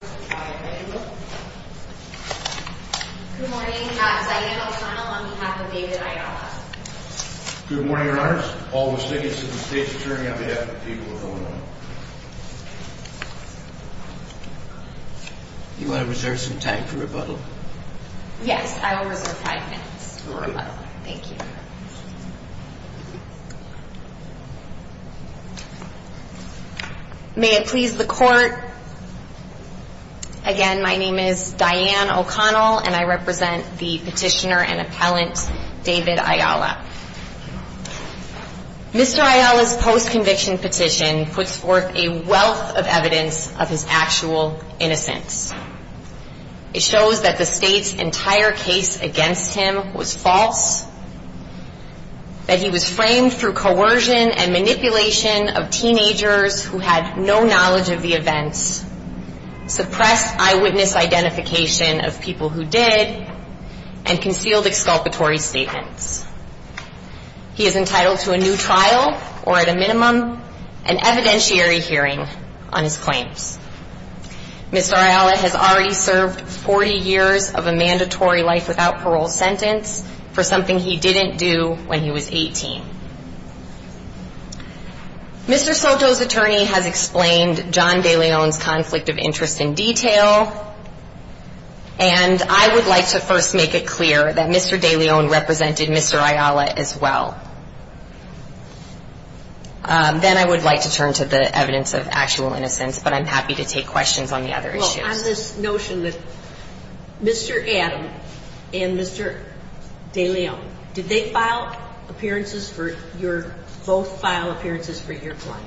Good morning, your honors. All the statutes of the state's attorney on behalf of the people of Illinois. You want to reserve some time for rebuttal? Yes, I will reserve five minutes for rebuttal. Thank you. May it please the court. Again, my name is Diane O'Connell and I represent the petitioner and appellant David Ayala. Mr. Ayala's post-conviction petition puts forth a wealth of evidence of his actual innocence. It shows that the state's entire case against him was false, that he was framed through coercion and manipulation of teenagers who had no knowledge of the events, suppressed eyewitness identification of people who did, and concealed exculpatory statements. He is entitled to a new trial or, at a minimum, an evidentiary hearing on his claims. Mr. Ayala has already served 40 years of a mandatory life without parole sentence for something he didn't do when he was 18. Mr. Soto's attorney has explained John DeLeon's conflict of interest in detail, and I would like to first make it clear that Mr. DeLeon represented Mr. Ayala as well. Then I would like to turn to the evidence of actual innocence, but I'm happy to take questions on the other issues. I have this notion that Mr. Adam and Mr. DeLeon, did they file appearances for your – both file appearances for your claim?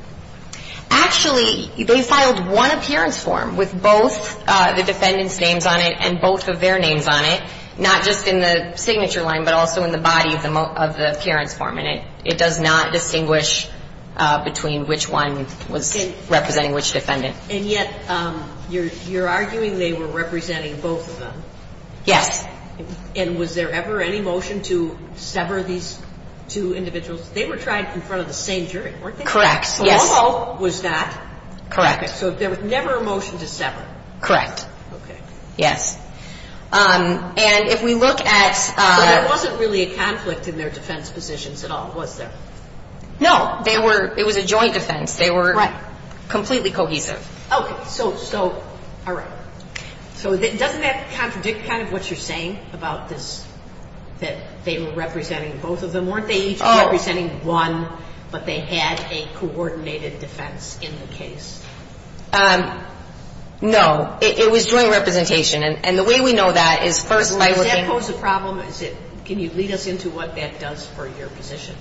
Actually, they filed one appearance form with both the defendant's names on it and both of their names on it, not just in the signature line, but also in the body of the appearance form, and it does not distinguish between which one was representing which defendant. And yet you're arguing they were representing both of them. Yes. And was there ever any motion to sever these two individuals? They were tried in front of the same jury, weren't they? Correct, yes. So all of them was that? Correct. So there was never a motion to sever? Correct. Okay. Yes. And if we look at – So there wasn't really a conflict in their defense positions at all, was there? No. They were – it was a joint defense. Right. Completely cohesive. Okay. So – so – all right. So doesn't that contradict kind of what you're saying about this – that they were representing both of them? Weren't they each representing one, but they had a coordinated defense in the case? No. It was joint representation, and the way we know that is first by looking – Does that pose a problem? Is it – can you lead us into what that does for your position?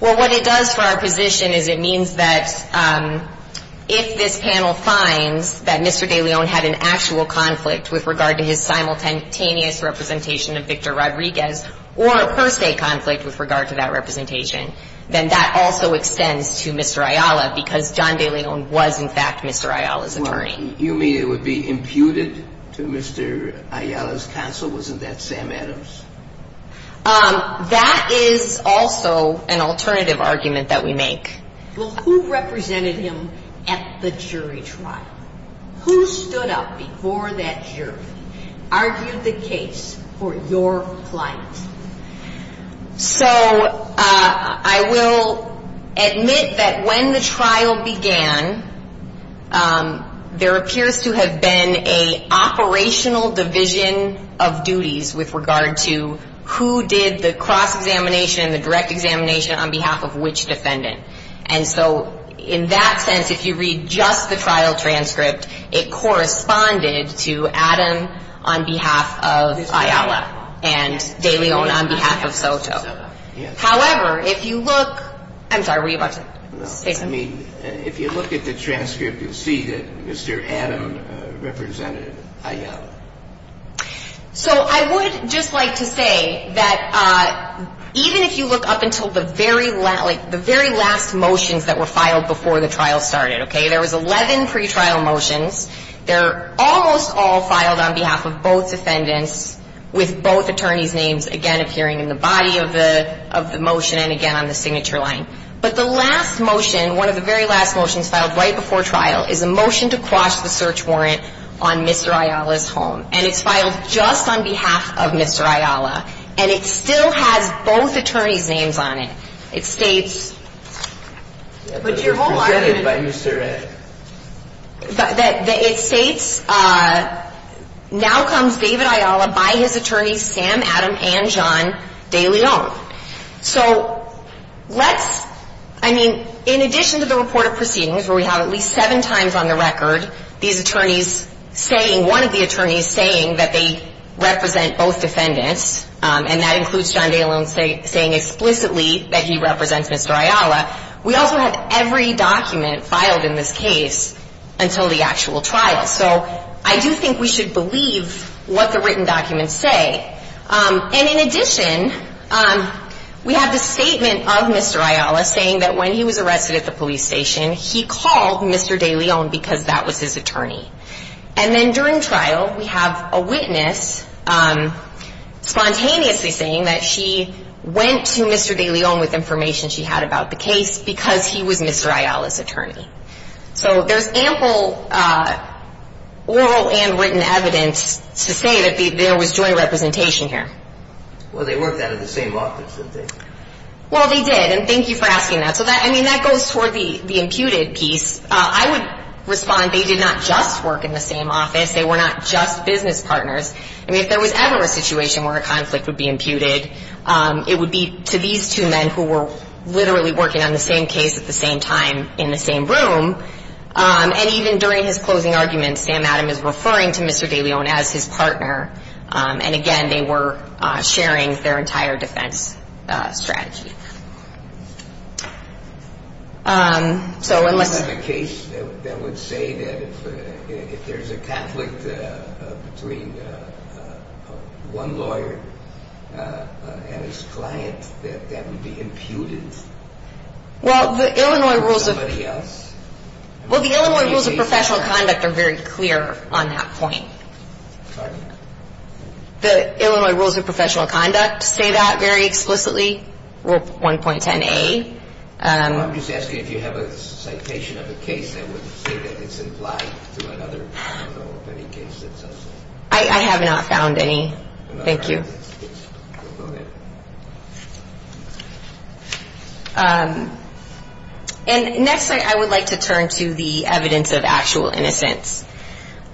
Well, what it does for our position is it means that if this panel finds that Mr. De Leon had an actual conflict with regard to his simultaneous representation of Victor Rodriguez or a per se conflict with regard to that representation, then that also extends to Mr. Ayala because John De Leon was, in fact, Mr. Ayala's attorney. You mean it would be imputed to Mr. Ayala's counsel? Wasn't that Sam Adams? That is also an alternative argument that we make. Well, who represented him at the jury trial? Who stood up before that jury, argued the case for your client? So I will admit that when the trial began, there appears to have been an operational division of duties with regard to who did the cross-examination and the direct examination on behalf of which defendant. And so in that sense, if you read just the trial transcript, it corresponded to Adam on behalf of Ayala and De Leon on behalf of Soto. However, if you look – I'm sorry, were you about to say something? I mean, if you look at the transcript, you'll see that Mr. Adam represented Ayala. So I would just like to say that even if you look up until the very last motions that were filed before the trial started, okay, there was 11 pretrial motions. They're almost all filed on behalf of both defendants with both attorneys' names, again, appearing in the body of the motion and, again, on the signature line. But the last motion, one of the very last motions filed right before trial, is a motion to quash the search warrant on Mr. Ayala's home. And it's filed just on behalf of Mr. Ayala. And it still has both attorneys' names on it. It states that it states, now comes David Ayala by his attorneys Sam, Adam, and John De Leon. So let's – I mean, in addition to the report of proceedings where we have at least seven times on the record these attorneys saying – one of the attorneys saying that they represent both defendants, and that includes John De Leon saying explicitly that he represents Mr. Ayala, we also have every document filed in this case until the actual trial. So I do think we should believe what the written documents say. And in addition, we have the statement of Mr. Ayala saying that when he was arrested at the police station, he called Mr. De Leon because that was his attorney. And then during trial, we have a witness spontaneously saying that she went to Mr. De Leon with information she had about the case because he was Mr. Ayala's attorney. So there's ample oral and written evidence to say that there was joint representation here. Well, they worked out of the same office, didn't they? Well, they did, and thank you for asking that. So that – I mean, that goes toward the imputed piece. I would respond they did not just work in the same office. They were not just business partners. I mean, if there was ever a situation where a conflict would be imputed, it would be to these two men who were literally working on the same case at the same time in the same room. And even during his closing argument, Sam Adam is referring to Mr. De Leon as his partner. And again, they were sharing their entire defense strategy. So unless – Was there a case that would say that if there's a conflict between one lawyer and his client, that that would be imputed? Well, the Illinois Rules of – Or somebody else? Well, the Illinois Rules of Professional Conduct are very clear on that point. Pardon? The Illinois Rules of Professional Conduct say that very explicitly, Rule 1.10a. Well, I'm just asking if you have a citation of a case that would say that it's implied through another – I don't know of any case that says that. I have not found any. Thank you. Go ahead. And next, I would like to turn to the evidence of actual innocence.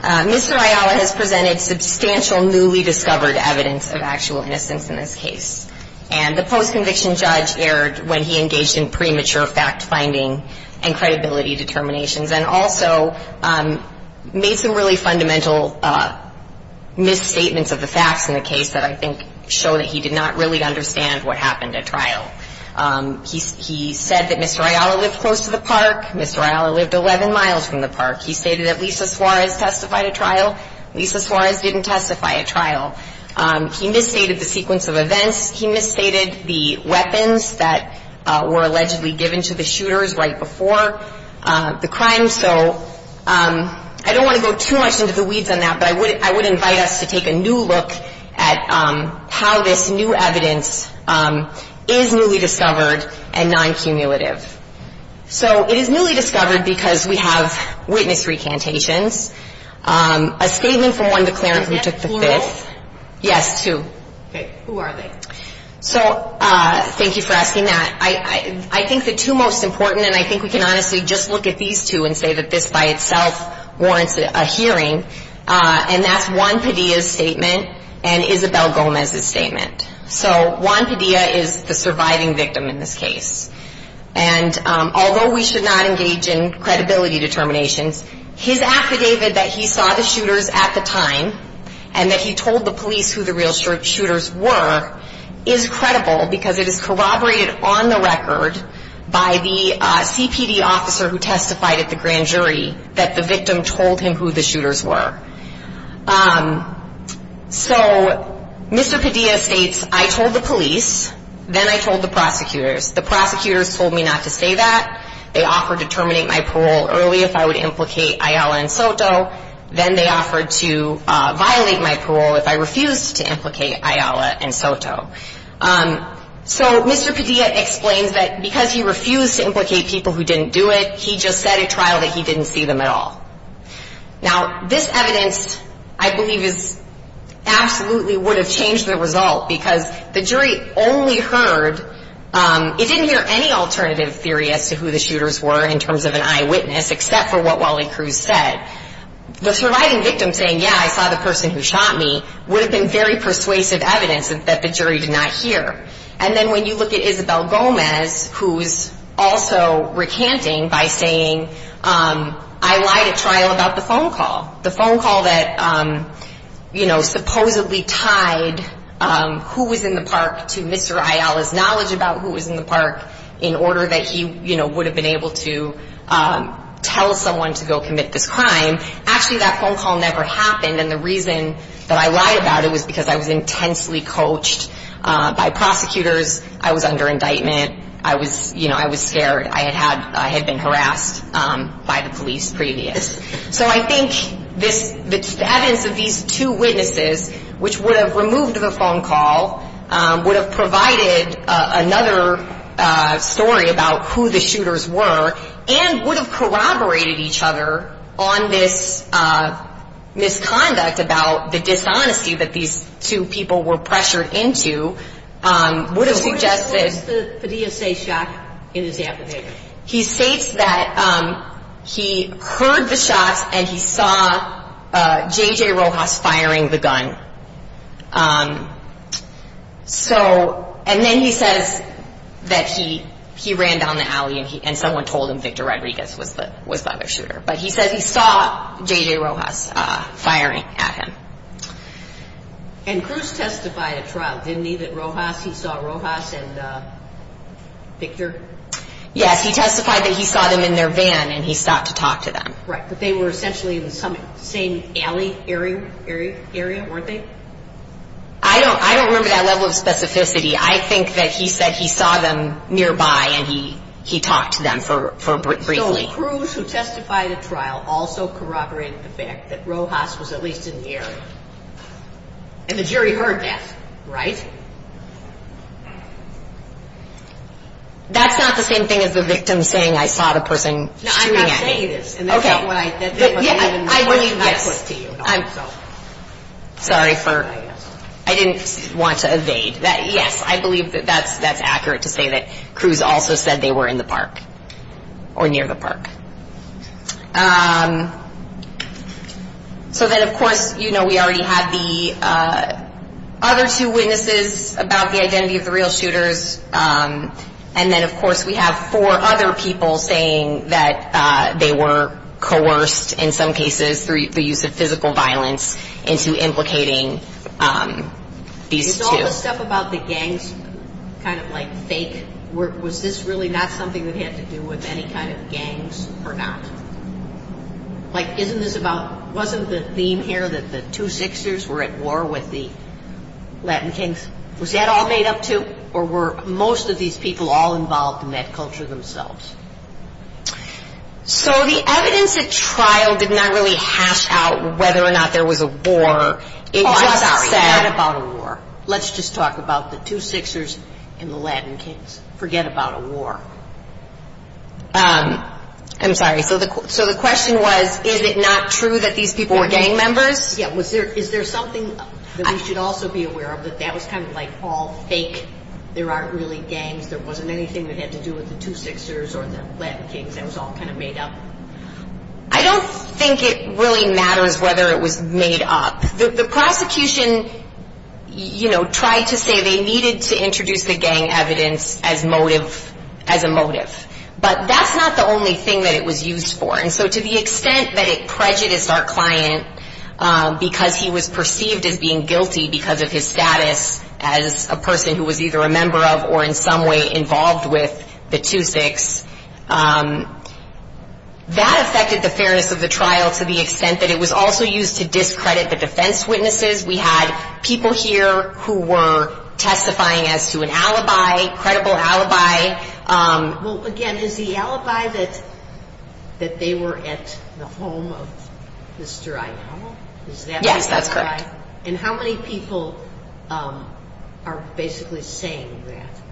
Mr. Ayala has presented substantial newly discovered evidence of actual innocence in this case. And the post-conviction judge erred when he engaged in premature fact-finding and credibility determinations and also made some really fundamental misstatements of the facts in the case that I think show that he did not really understand what happened at trial. He said that Mr. Ayala lived close to the park. Mr. Ayala lived 11 miles from the park. He stated that Lisa Suarez testified at trial. Lisa Suarez didn't testify at trial. He misstated the sequence of events. He misstated the weapons that were allegedly given to the shooters right before the crime. So I don't want to go too much into the weeds on that, but I would invite us to take a new look at how this new evidence is newly discovered and non-cumulative. So it is newly discovered because we have witness recantations. A statement from one declarant who took the fifth. Is that plural? Yes, two. Okay. Who are they? So thank you for asking that. I think the two most important, and I think we can honestly just look at these two and say that this by itself warrants a hearing, and that's Juan Padilla's statement and Isabel Gomez's statement. So Juan Padilla is the surviving victim in this case. And although we should not engage in credibility determinations, his affidavit that he saw the shooters at the time and that he told the police who the real shooters were is credible because it is corroborated on the record by the CPD officer who testified at the grand jury that the victim told him who the shooters were. So Mr. Padilla states, I told the police, then I told the prosecutors. The prosecutors told me not to say that. They offered to terminate my parole early if I would implicate Ayala and Soto. Then they offered to violate my parole if I refused to implicate Ayala and Soto. So Mr. Padilla explains that because he refused to implicate people who didn't do it, he just said at trial that he didn't see them at all. Now, this evidence, I believe, absolutely would have changed the result because the jury only heard, it didn't hear any alternative theory as to who the shooters were in terms of an eyewitness except for what Wally Cruz said. The surviving victim saying, yeah, I saw the person who shot me, would have been very persuasive evidence that the jury did not hear. And then when you look at Isabel Gomez, who is also recanting by saying, I lied at trial about the phone call, the phone call that supposedly tied who was in the park to Mr. Ayala's knowledge about who was in the park in order that he would have been able to tell someone to go commit this crime. Actually, that phone call never happened. And the reason that I lied about it was because I was intensely coached by prosecutors. I was under indictment. I was scared. I had been harassed by the police previous. So I think this evidence of these two witnesses, which would have removed the phone call, would have provided another story about who the shooters were and would have corroborated each other on this misconduct about the dishonesty that these two people were pressured into, would have suggested. So what does the FDSA say in this application? He states that he heard the shots and he saw J.J. Rojas firing the gun. And then he says that he ran down the alley and someone told him Victor Rodriguez was the other shooter. But he says he saw J.J. Rojas firing at him. And Cruz testified at trial, didn't he, that Rojas, he saw Rojas and Victor? Yes, he testified that he saw them in their van and he stopped to talk to them. Right, but they were essentially in the same alley area, weren't they? I don't remember that level of specificity. I think that he said he saw them nearby and he talked to them briefly. So Cruz, who testified at trial, also corroborated the fact that Rojas was at least in the area. And the jury heard that, right? That's not the same thing as the victim saying, I saw the person shooting at me. No, I'm not saying this. Okay. And that's not what I put to you. Sorry for, I didn't want to evade. Yes, I believe that that's accurate to say that Cruz also said they were in the park or near the park. So then, of course, you know, we already had the other two witnesses about the identity of the real shooters. And then, of course, we have four other people saying that they were coerced, in some cases, through the use of physical violence into implicating these two. Is all the stuff about the gangs kind of like fake? Was this really not something that had to do with any kind of gangs? Or not? Like, isn't this about, wasn't the theme here that the Two Sixers were at war with the Latin Kings? Was that all made up, too? Or were most of these people all involved in that culture themselves? So the evidence at trial did not really hash out whether or not there was a war. It just said. Oh, I'm sorry. Forget about a war. Let's just talk about the Two Sixers and the Latin Kings. Forget about a war. I'm sorry. So the question was, is it not true that these people were gang members? Yeah. Is there something that we should also be aware of that that was kind of like all fake? There aren't really gangs. There wasn't anything that had to do with the Two Sixers or the Latin Kings. That was all kind of made up. I don't think it really matters whether it was made up. The prosecution, you know, tried to say they needed to introduce the gang evidence as motive, as a motive. But that's not the only thing that it was used for. And so to the extent that it prejudiced our client because he was perceived as being guilty because of his status as a person who was either a member of or in some way involved with the Two Six, that affected the fairness of the trial to the extent that it was also used to discredit the defense witnesses. We had people here who were testifying as to an alibi, credible alibi. Well, again, is the alibi that they were at the home of Mr. Inao? Is that the alibi? Yes, that's correct. And how many people are basically saying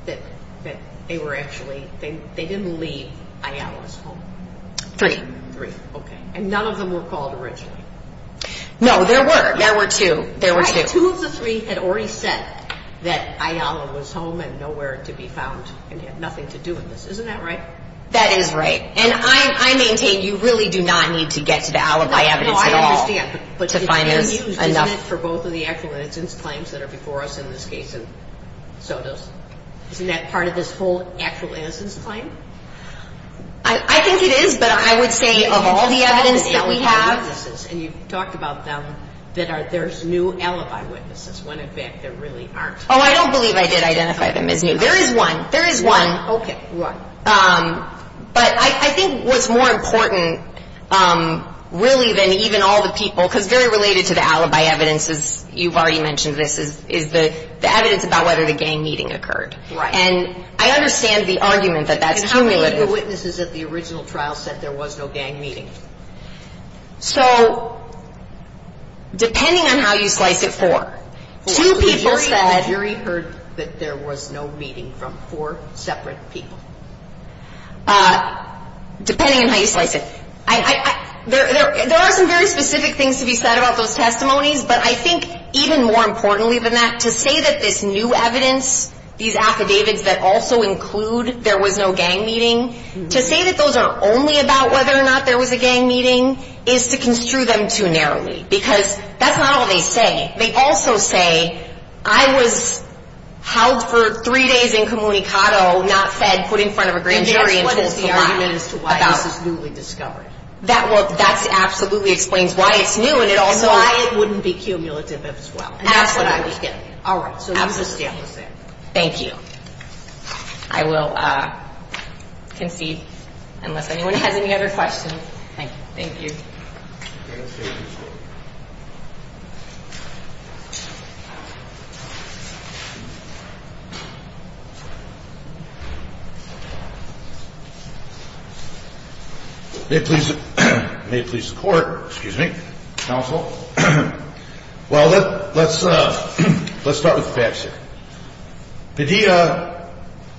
that, that they were actually, they didn't leave Iao's home? Three. Three, okay. And none of them were called originally. No, there were. There were two. There were two. Right. Two of the three had already said that Iao was home and nowhere to be found and had nothing to do with this. Isn't that right? That is right. And I maintain you really do not need to get to the alibi evidence at all. No, I understand. But it's been used, isn't it, for both of the actual innocence claims that are before us in this case and so does, isn't that part of this whole actual innocence claim? I think it is, but I would say of all the evidence that we have. And you've talked about them, that there's new alibi witnesses when, in fact, there really aren't. Oh, I don't believe I did identify them as new. There is one. There is one. Okay, one. But I think what's more important really than even all the people, because very related to the alibi evidence is you've already mentioned this, is the evidence about whether the gang meeting occurred. Right. And I understand the argument that that's cumulative. And how many of the witnesses at the original trial said there was no gang meeting? So depending on how you slice it, four. Two people said. The jury heard that there was no meeting from four separate people. Depending on how you slice it. There are some very specific things to be said about those testimonies, but I think even more importantly than that, to say that this new evidence, these affidavits that also include there was no gang meeting, to say that those are only about whether or not there was a gang meeting is to construe them too narrowly. Because that's not all they say. They also say I was held for three days incommunicado, not fed, put in front of a grand jury. And that's what is the argument as to why this is newly discovered. That absolutely explains why it's new and it also. And why it wouldn't be cumulative as well. Absolutely. And that's what I was getting at. All right. Absolutely. Thank you. I will concede unless anyone has any other questions. Thank you. Thank you. May it please the court. Excuse me. Counsel. Well, let's start with the facts here. Padilla,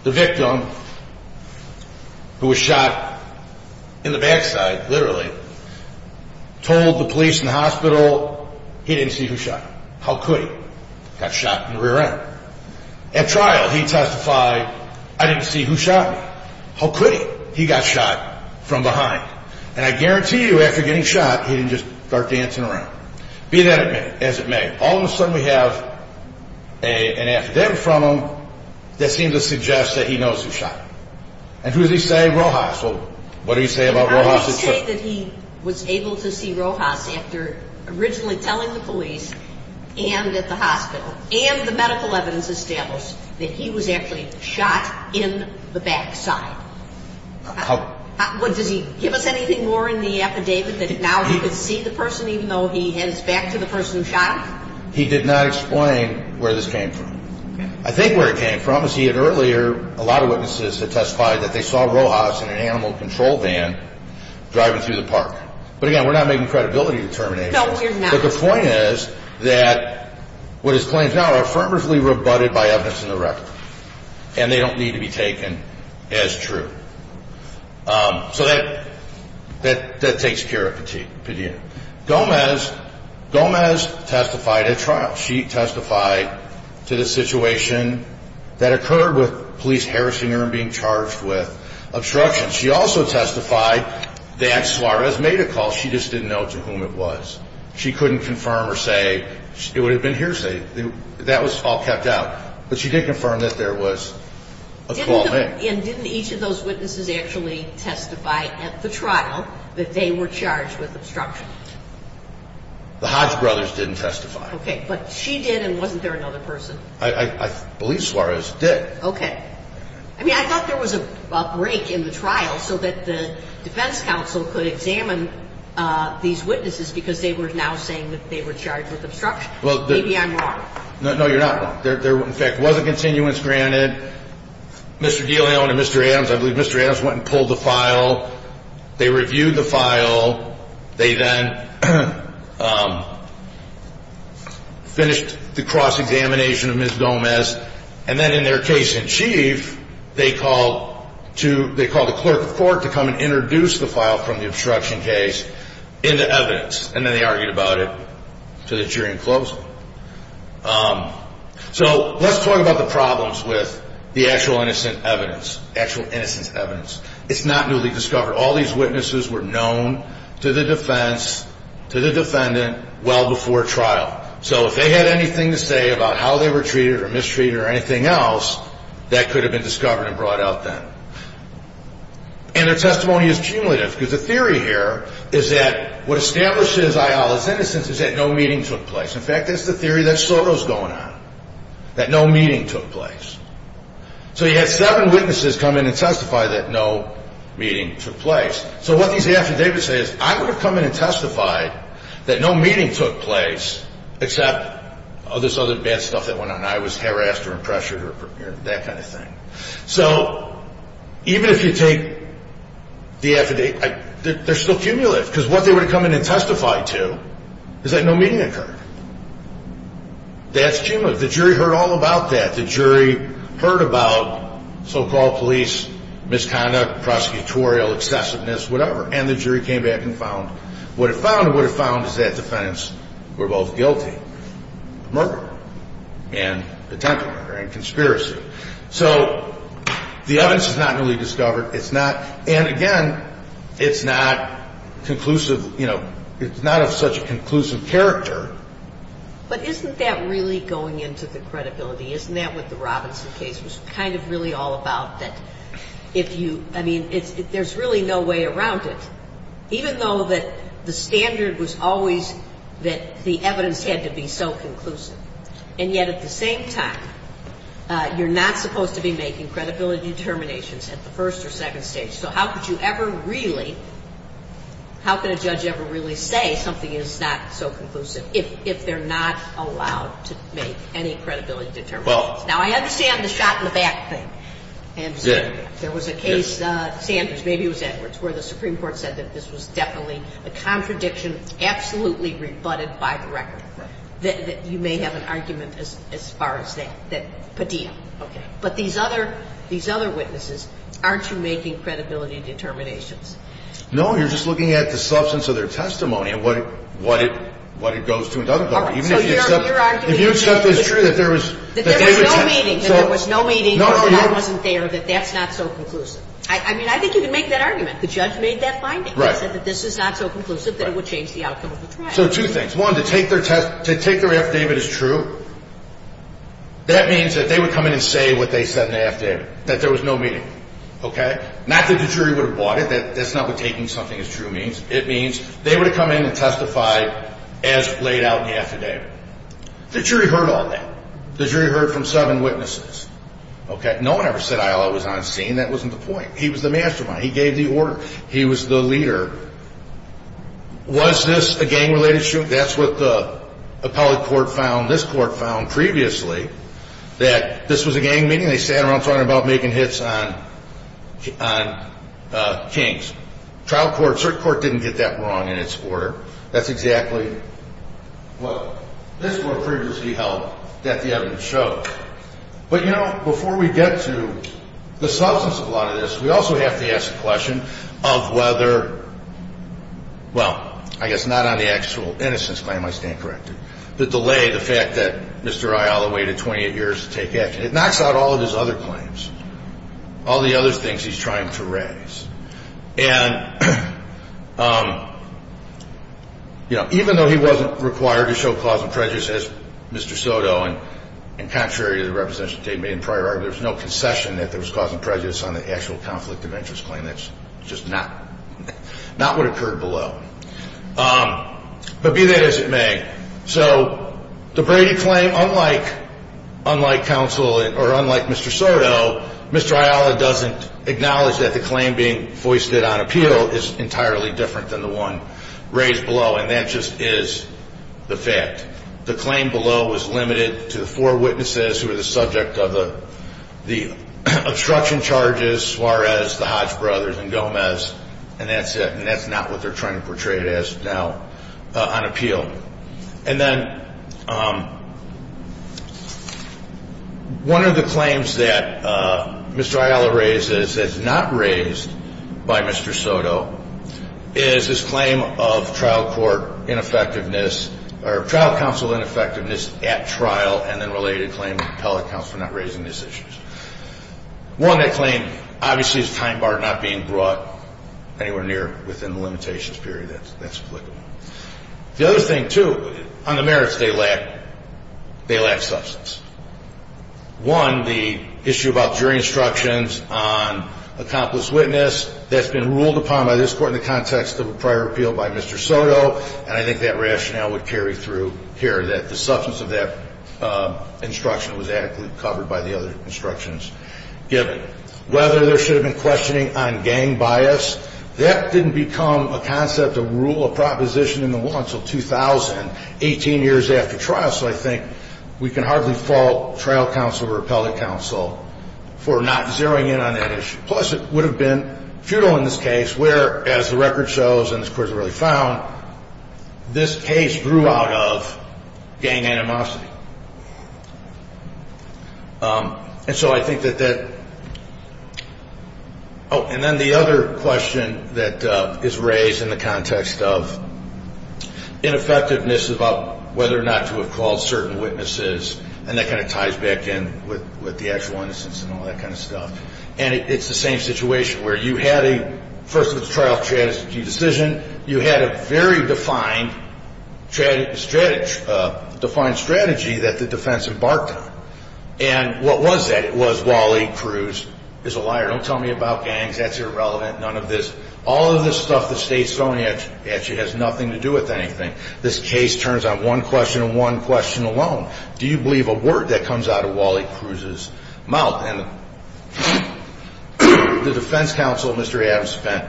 the victim, who was shot in the backside, literally, told the police and hospital he didn't see who shot him. How could he? Got shot in the rear end. At trial, he testified, I didn't see who shot me. How could he? He got shot from behind. And I guarantee you after getting shot, he didn't just start dancing around. Be that as it may. And all of a sudden we have an affidavit from him that seems to suggest that he knows who shot him. And who does he say? Rojas. Well, what do you say about Rojas? I would say that he was able to see Rojas after originally telling the police and at the hospital and the medical evidence established that he was actually shot in the backside. Does he give us anything more in the affidavit that now he could see the person even though he heads back to the person who shot him? He did not explain where this came from. I think where it came from is he had earlier a lot of witnesses that testified that they saw Rojas in an animal control van driving through the park. But again, we're not making credibility determinations. No, we're not. But the point is that what is claimed now are affirmatively rebutted by evidence in the record. And they don't need to be taken as true. So that takes pure opinion. Gomez testified at trial. She testified to the situation that occurred with police harassing her and being charged with obstruction. She also testified that Suarez made a call. She just didn't know to whom it was. She couldn't confirm or say it would have been hearsay. That was all kept out. But she did confirm that there was a call made. And didn't each of those witnesses actually testify at the trial that they were charged with obstruction? The Hodge brothers didn't testify. Okay, but she did and wasn't there another person? I believe Suarez did. Okay. I mean, I thought there was a break in the trial so that the defense counsel could examine these witnesses because they were now saying that they were charged with obstruction. Maybe I'm wrong. No, you're not wrong. There, in fact, was a continuance granted. Mr. DeLeon and Mr. Adams, I believe Mr. Adams went and pulled the file. They reviewed the file. They then finished the cross-examination of Ms. Gomez. And then in their case in chief, they called a clerk of court to come and introduce the file from the obstruction case into evidence. And then they argued about it to the jury in closing. So let's talk about the problems with the actual innocent evidence, actual innocence evidence. It's not newly discovered. All these witnesses were known to the defense, to the defendant, well before trial. So if they had anything to say about how they were treated or mistreated or anything else, that could have been discovered and brought out then. And their testimony is cumulative because the theory here is that what establishes Ayala's innocence is that no meeting took place. In fact, that's the theory that Soto's going on, that no meeting took place. So you had seven witnesses come in and testify that no meeting took place. So what these affidavits say is I would have come in and testified that no meeting took place except this other bad stuff that went on. I was harassed or pressured or that kind of thing. So even if you take the affidavit, they're still cumulative because what they would have come in and testified to is that no meeting occurred. That's cumulative. The jury heard all about that. The jury heard about so-called police misconduct, prosecutorial excessiveness, whatever. And the jury came back and found what it found, and what it found is that defendants were both guilty of murder and attempted murder and conspiracy. So the evidence is not newly discovered. It's not – and, again, it's not conclusive – you know, it's not of such a conclusive character. But isn't that really going into the credibility? Isn't that what the Robinson case was kind of really all about, that if you – I mean, there's really no way around it, even though that the standard was always that the evidence had to be so conclusive. And yet at the same time, you're not supposed to be making credibility determinations at the first or second stage. So how could you ever really – how could a judge ever really say something is not so conclusive if they're not allowed to make any credibility determinations? Now, I understand the shot-in-the-back thing. I understand that. There was a case, Sanders – maybe it was Edwards – where the Supreme Court said that this was definitely a contradiction, absolutely rebutted by the record, that you may have an argument as far as that. But these other witnesses, aren't you making credibility determinations? No. You're just looking at the substance of their testimony and what it goes to and doesn't go to, even if you accept – All right. So you're arguing – If you accept it's true that there was – That there was no meeting, that there was no meeting, that I wasn't there, that that's not so conclusive. I mean, I think you can make that argument. The judge made that finding. Right. He said that this is not so conclusive that it would change the outcome of the trial. So two things. One, to take their affidavit as true, that means that they would come in and say what they said in the affidavit, that there was no meeting. Okay? Not that the jury would have bought it. That's not what taking something as true means. It means they would have come in and testified as laid out in the affidavit. The jury heard all that. The jury heard from seven witnesses. Okay? No one ever said Illa was on scene. That wasn't the point. He was the mastermind. He gave the order. He was the leader. Was this a gang-related shooting? That's what the appellate court found, this court found previously, that this was a gang meeting. They sat around talking about making hits on kings. Trial court, cert court didn't get that wrong in its order. That's exactly what this court previously held that the evidence showed. But, you know, before we get to the substance of a lot of this, we also have to ask the question of whether, well, I guess not on the actual innocence claim, I stand corrected, the delay, the fact that Mr. Illa waited 28 years to take action. It knocks out all of his other claims, all the other things he's trying to raise. And, you know, even though he wasn't required to show cause and prejudice as Mr. Soto and contrary to the representation the state made in prior argument, there was no concession that there was cause and prejudice on the actual conflict of interest claim. That's just not what occurred below. But be that as it may, so the Brady claim, unlike counsel or unlike Mr. Soto, Mr. Illa doesn't acknowledge that the claim being foisted on appeal is entirely different than the one raised below, and that just is the fact. The claim below was limited to the four witnesses who were the subject of the obstruction charges, Suarez, the Hodge brothers, and Gomez, and that's it, and that's not what they're trying to portray it as now on appeal. And then one of the claims that Mr. Illa raises that's not raised by Mr. Soto is his claim of trial court ineffectiveness or trial counsel ineffectiveness at trial and then related claim of appellate counsel not raising these issues. One, that claim obviously is a time bar not being brought anywhere near within the limitations period. That's applicable. The other thing, too, on the merits they lack, they lack substance. One, the issue about jury instructions on accomplice witness. That's been ruled upon by this Court in the context of a prior appeal by Mr. Soto, and I think that rationale would carry through here that the substance of that instruction was adequately covered by the other instructions given. Whether there should have been questioning on gang bias, that didn't become a concept, a rule, a proposition in the law until 2000, 18 years after trial. So I think we can hardly fault trial counsel or appellate counsel for not zeroing in on that issue. Plus, it would have been futile in this case where, as the record shows and this Court has already found, this case grew out of gang animosity. And so I think that that – oh, and then the other question that is raised in the context of ineffectiveness is about whether or not to have called certain witnesses, and that kind of ties back in with the actual innocence and all that kind of stuff. And it's the same situation where you had a – first of all, it's a trial strategy decision. You had a very defined strategy that the defense embarked on. And what was that? It was Wally Cruz is a liar, don't tell me about gangs, that's irrelevant, none of this. All of this stuff the State's throwing at you has nothing to do with anything. This case turns on one question and one question alone. Do you believe a word that comes out of Wally Cruz's mouth? And the defense counsel, Mr. Adams, spent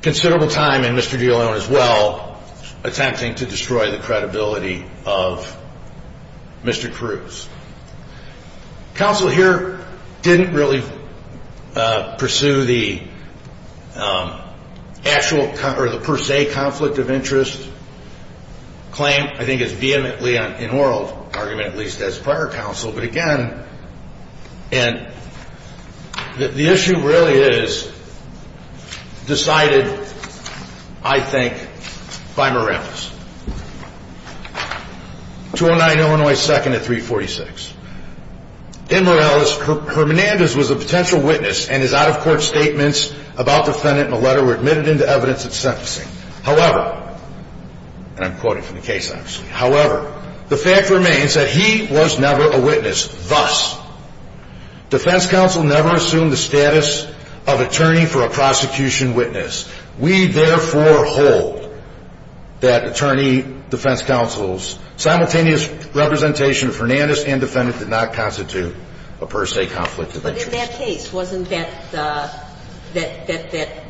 considerable time, and Mr. DeLone as well, attempting to destroy the credibility of Mr. Cruz. Counsel here didn't really pursue the actual – or the per se conflict of interest claim. I think it's vehemently in oral argument, at least as prior counsel. But, again, the issue really is decided, I think, by Morales. 209 Illinois 2nd at 346. In Morales, Hernandez was a potential witness, and his out-of-court statements about the defendant in the letter were admitted into evidence at sentencing. However – and I'm quoting from the case, obviously – However, the fact remains that he was never a witness. Thus, defense counsel never assumed the status of attorney for a prosecution witness. We therefore hold that attorney defense counsel's simultaneous representation of Hernandez and defendant did not constitute a per se conflict of interest. But in that case, wasn't that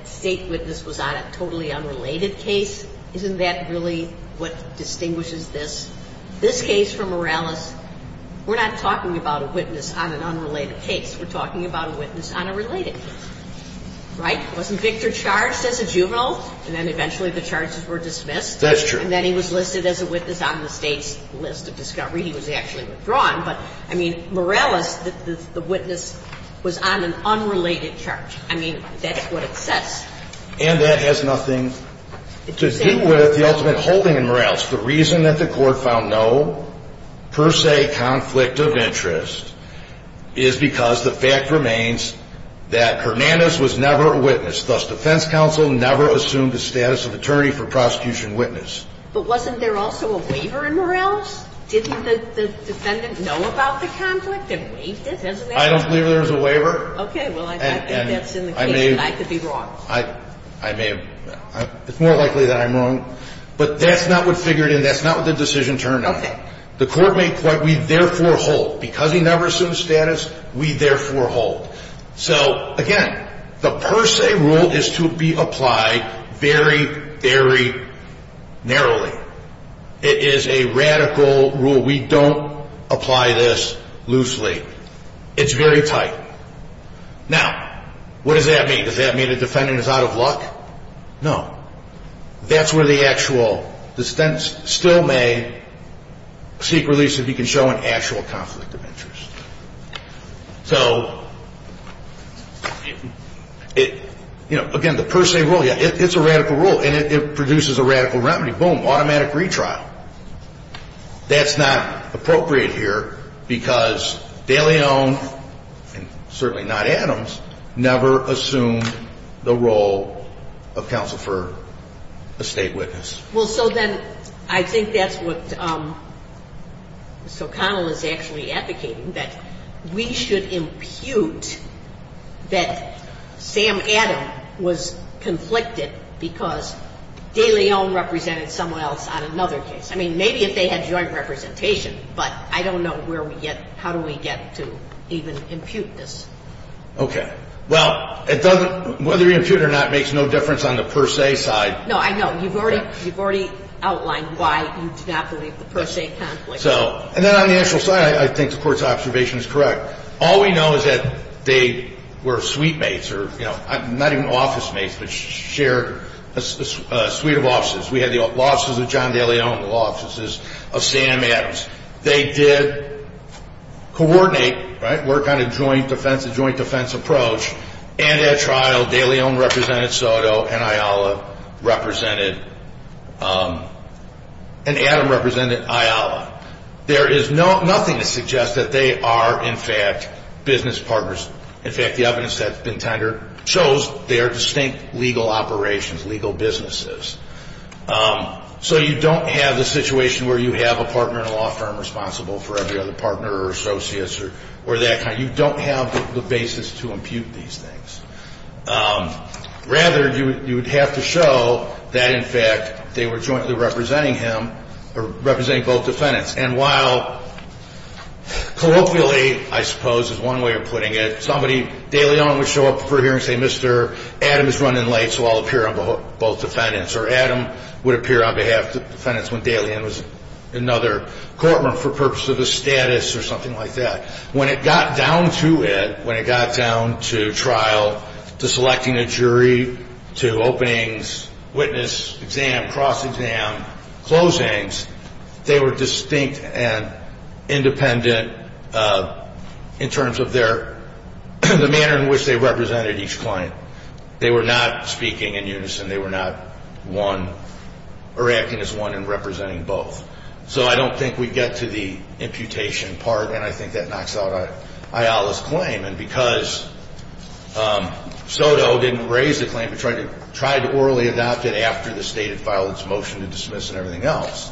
State witness was on a totally unrelated case? Isn't that really what distinguishes this? This case for Morales, we're not talking about a witness on an unrelated case. We're talking about a witness on a related case. Right? Wasn't Victor charged as a juvenile? And then eventually the charges were dismissed. That's true. And then he was listed as a witness on the State's list of discovery. He was actually withdrawn. But, I mean, Morales, the witness, was on an unrelated charge. I mean, that's what it says. And that has nothing to do with the ultimate holding in Morales. The reason that the Court found no per se conflict of interest is because the fact remains that Hernandez was never a witness. Thus, defense counsel never assumed the status of attorney for prosecution witness. But wasn't there also a waiver in Morales? Didn't the defendant know about the conflict and waived it? I don't believe there was a waiver. Okay. Well, I think that's in the case. I could be wrong. I may have been wrong. It's more likely that I'm wrong. But that's not what figured in. That's not what the decision turned out to be. Okay. The Court made the point, we therefore hold. Because he never assumed status, we therefore hold. So, again, the per se rule is to be applied very, very narrowly. It is a radical rule. We don't apply this loosely. It's very tight. Now, what does that mean? Does that mean the defendant is out of luck? No. That's where the actual defense still may seek release if you can show an actual conflict of interest. So, you know, again, the per se rule, yeah, it's a radical rule. And it produces a radical remedy. Boom, automatic retrial. That's not appropriate here because de Leon, and certainly not Adams, never assumed the role of counsel for a state witness. Well, so then I think that's what Ms. O'Connell is actually advocating, that we should impute that Sam Adams was conflicted because de Leon represented someone else on another case. I mean, maybe if they had joint representation, but I don't know where we get, how do we get to even impute this. Okay. Well, it doesn't, whether you impute it or not makes no difference on the per se side. No, I know. You've already outlined why you do not believe the per se conflict. So, and then on the actual side, I think the court's observation is correct. All we know is that they were suite mates or, you know, not even office mates, but shared a suite of offices. We had the offices of John de Leon, the law offices of Sam Adams. They did coordinate, right, work on a joint defense, a joint defense approach. And at trial, de Leon represented Soto and Ayala represented, and Adam represented Ayala. There is nothing to suggest that they are, in fact, business partners. In fact, the evidence that's been tendered shows they are distinct legal operations, legal businesses. So you don't have the situation where you have a partner in a law firm responsible for every other partner or associates or that kind. You don't have the basis to impute these things. Rather, you would have to show that, in fact, they were jointly representing him or representing both defendants. And while colloquially, I suppose, is one way of putting it, somebody, de Leon would show up for a hearing and say, Mr. Adams is running late, so I'll appear on both defendants. Or Adam would appear on behalf of the defendants when de Leon was in another courtroom for purpose of a status or something like that. When it got down to it, when it got down to trial, to selecting a jury, to openings, witness, exam, cross-exam, closings, they were distinct and independent in terms of their, the manner in which they represented each client. They were not speaking in unison. They were not one or acting as one and representing both. So I don't think we get to the imputation part, and I think that knocks out Ayala's claim. And because Soto didn't raise the claim, but tried to orally adopt it after the stated file, its motion to dismiss and everything else,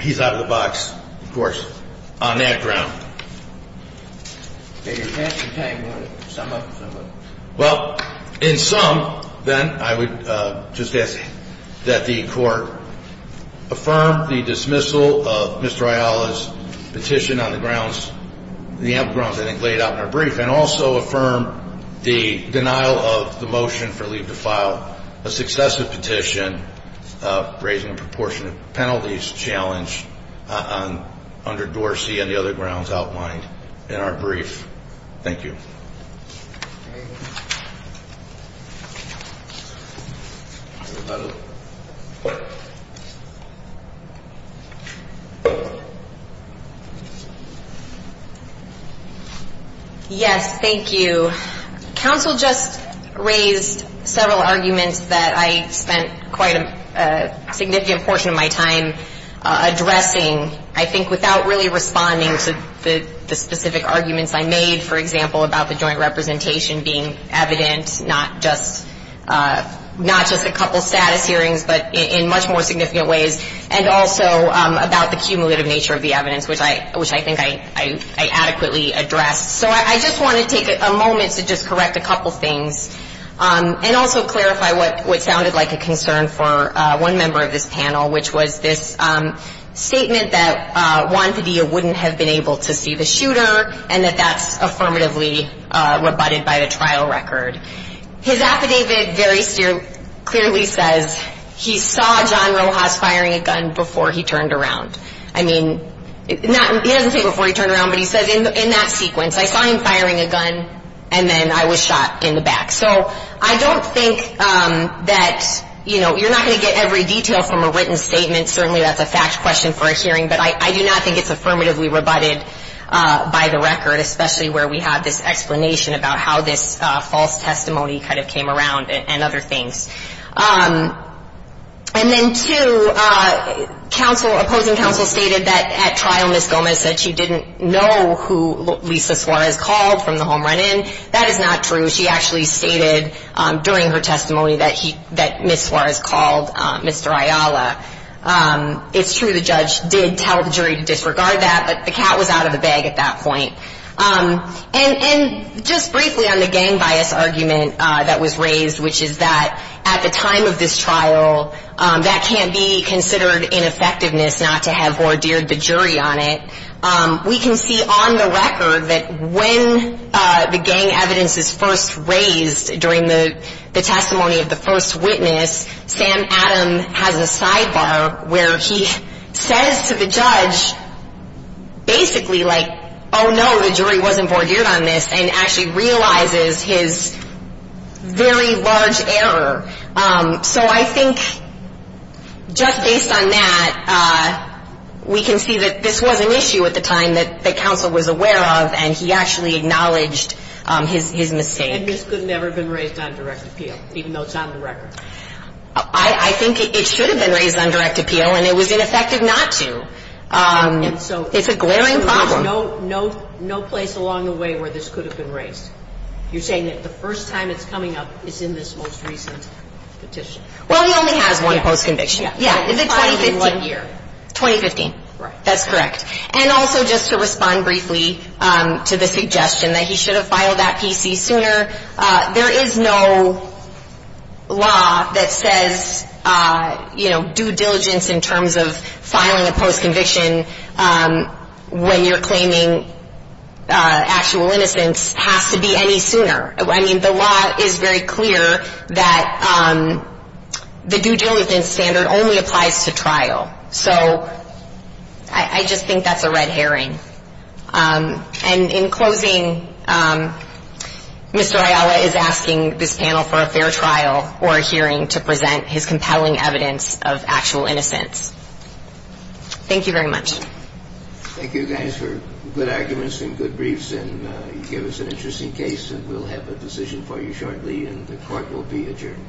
he's out of the box, of course, on that ground. Well, in sum, then, I would just ask that the court affirm the dismissal of Mr. Ayala's petition on the grounds, the ample grounds I think laid out in our brief, and also affirm the denial of the motion for leave to file a successive petition raising a proportionate penalties challenge under Dorsey and the other grounds outlined in our brief. Thank you. Yes, thank you. So counsel just raised several arguments that I spent quite a significant portion of my time addressing, I think without really responding to the specific arguments I made, for example, about the joint representation being evident, not just a couple status hearings, but in much more significant ways, and also about the cumulative nature of the evidence, which I think I adequately addressed. So I just want to take a moment to just correct a couple things, and also clarify what sounded like a concern for one member of this panel, which was this statement that Juan Padilla wouldn't have been able to see the shooter, and that that's affirmatively rebutted by the trial record. His affidavit very clearly says he saw John Rojas firing a gun before he turned around. I mean, he doesn't say before he turned around, but he says in that sequence, I saw him firing a gun, and then I was shot in the back. So I don't think that, you know, you're not going to get every detail from a written statement, certainly that's a fact question for a hearing, but I do not think it's affirmatively rebutted by the record, especially where we have this explanation about how this false testimony kind of came around and other things. And then two, opposing counsel stated that at trial Ms. Gomez said she didn't know who Lisa Suarez called from the home run-in. That is not true. She actually stated during her testimony that Ms. Suarez called Mr. Ayala. It's true the judge did tell the jury to disregard that, but the cat was out of the bag at that point. And just briefly on the gang bias argument that was raised, which is that at the time of this trial, that can't be considered ineffectiveness not to have ordeered the jury on it. We can see on the record that when the gang evidence is first raised during the testimony of the first witness, Sam Adam has a sidebar where he says to the judge basically like, oh, no, the jury wasn't ordeered on this, and actually realizes his very large error. So I think just based on that, we can see that this was an issue at the time that counsel was aware of, and he actually acknowledged his mistake. And this could never have been raised on direct appeal, even though it's on the record? I think it should have been raised on direct appeal, and it was ineffective not to. It's a glaring problem. So there's no place along the way where this could have been raised? You're saying that the first time it's coming up is in this most recent petition? Well, he only has one post-conviction. Yeah, is it 2015? Filed in what year? 2015. Right. That's correct. And also just to respond briefly to the suggestion that he should have filed that PC sooner, there is no law that says, you know, due diligence in terms of filing a post-conviction when you're claiming actual innocence has to be any sooner. I mean, the law is very clear that the due diligence standard only applies to trial. So I just think that's a red herring. And in closing, Mr. Ayala is asking this panel for a fair trial or a hearing to present his compelling evidence of actual innocence. Thank you very much. Thank you, guys, for good arguments and good briefs, and you gave us an interesting case, and we'll have a decision for you shortly, and the court will be adjourned.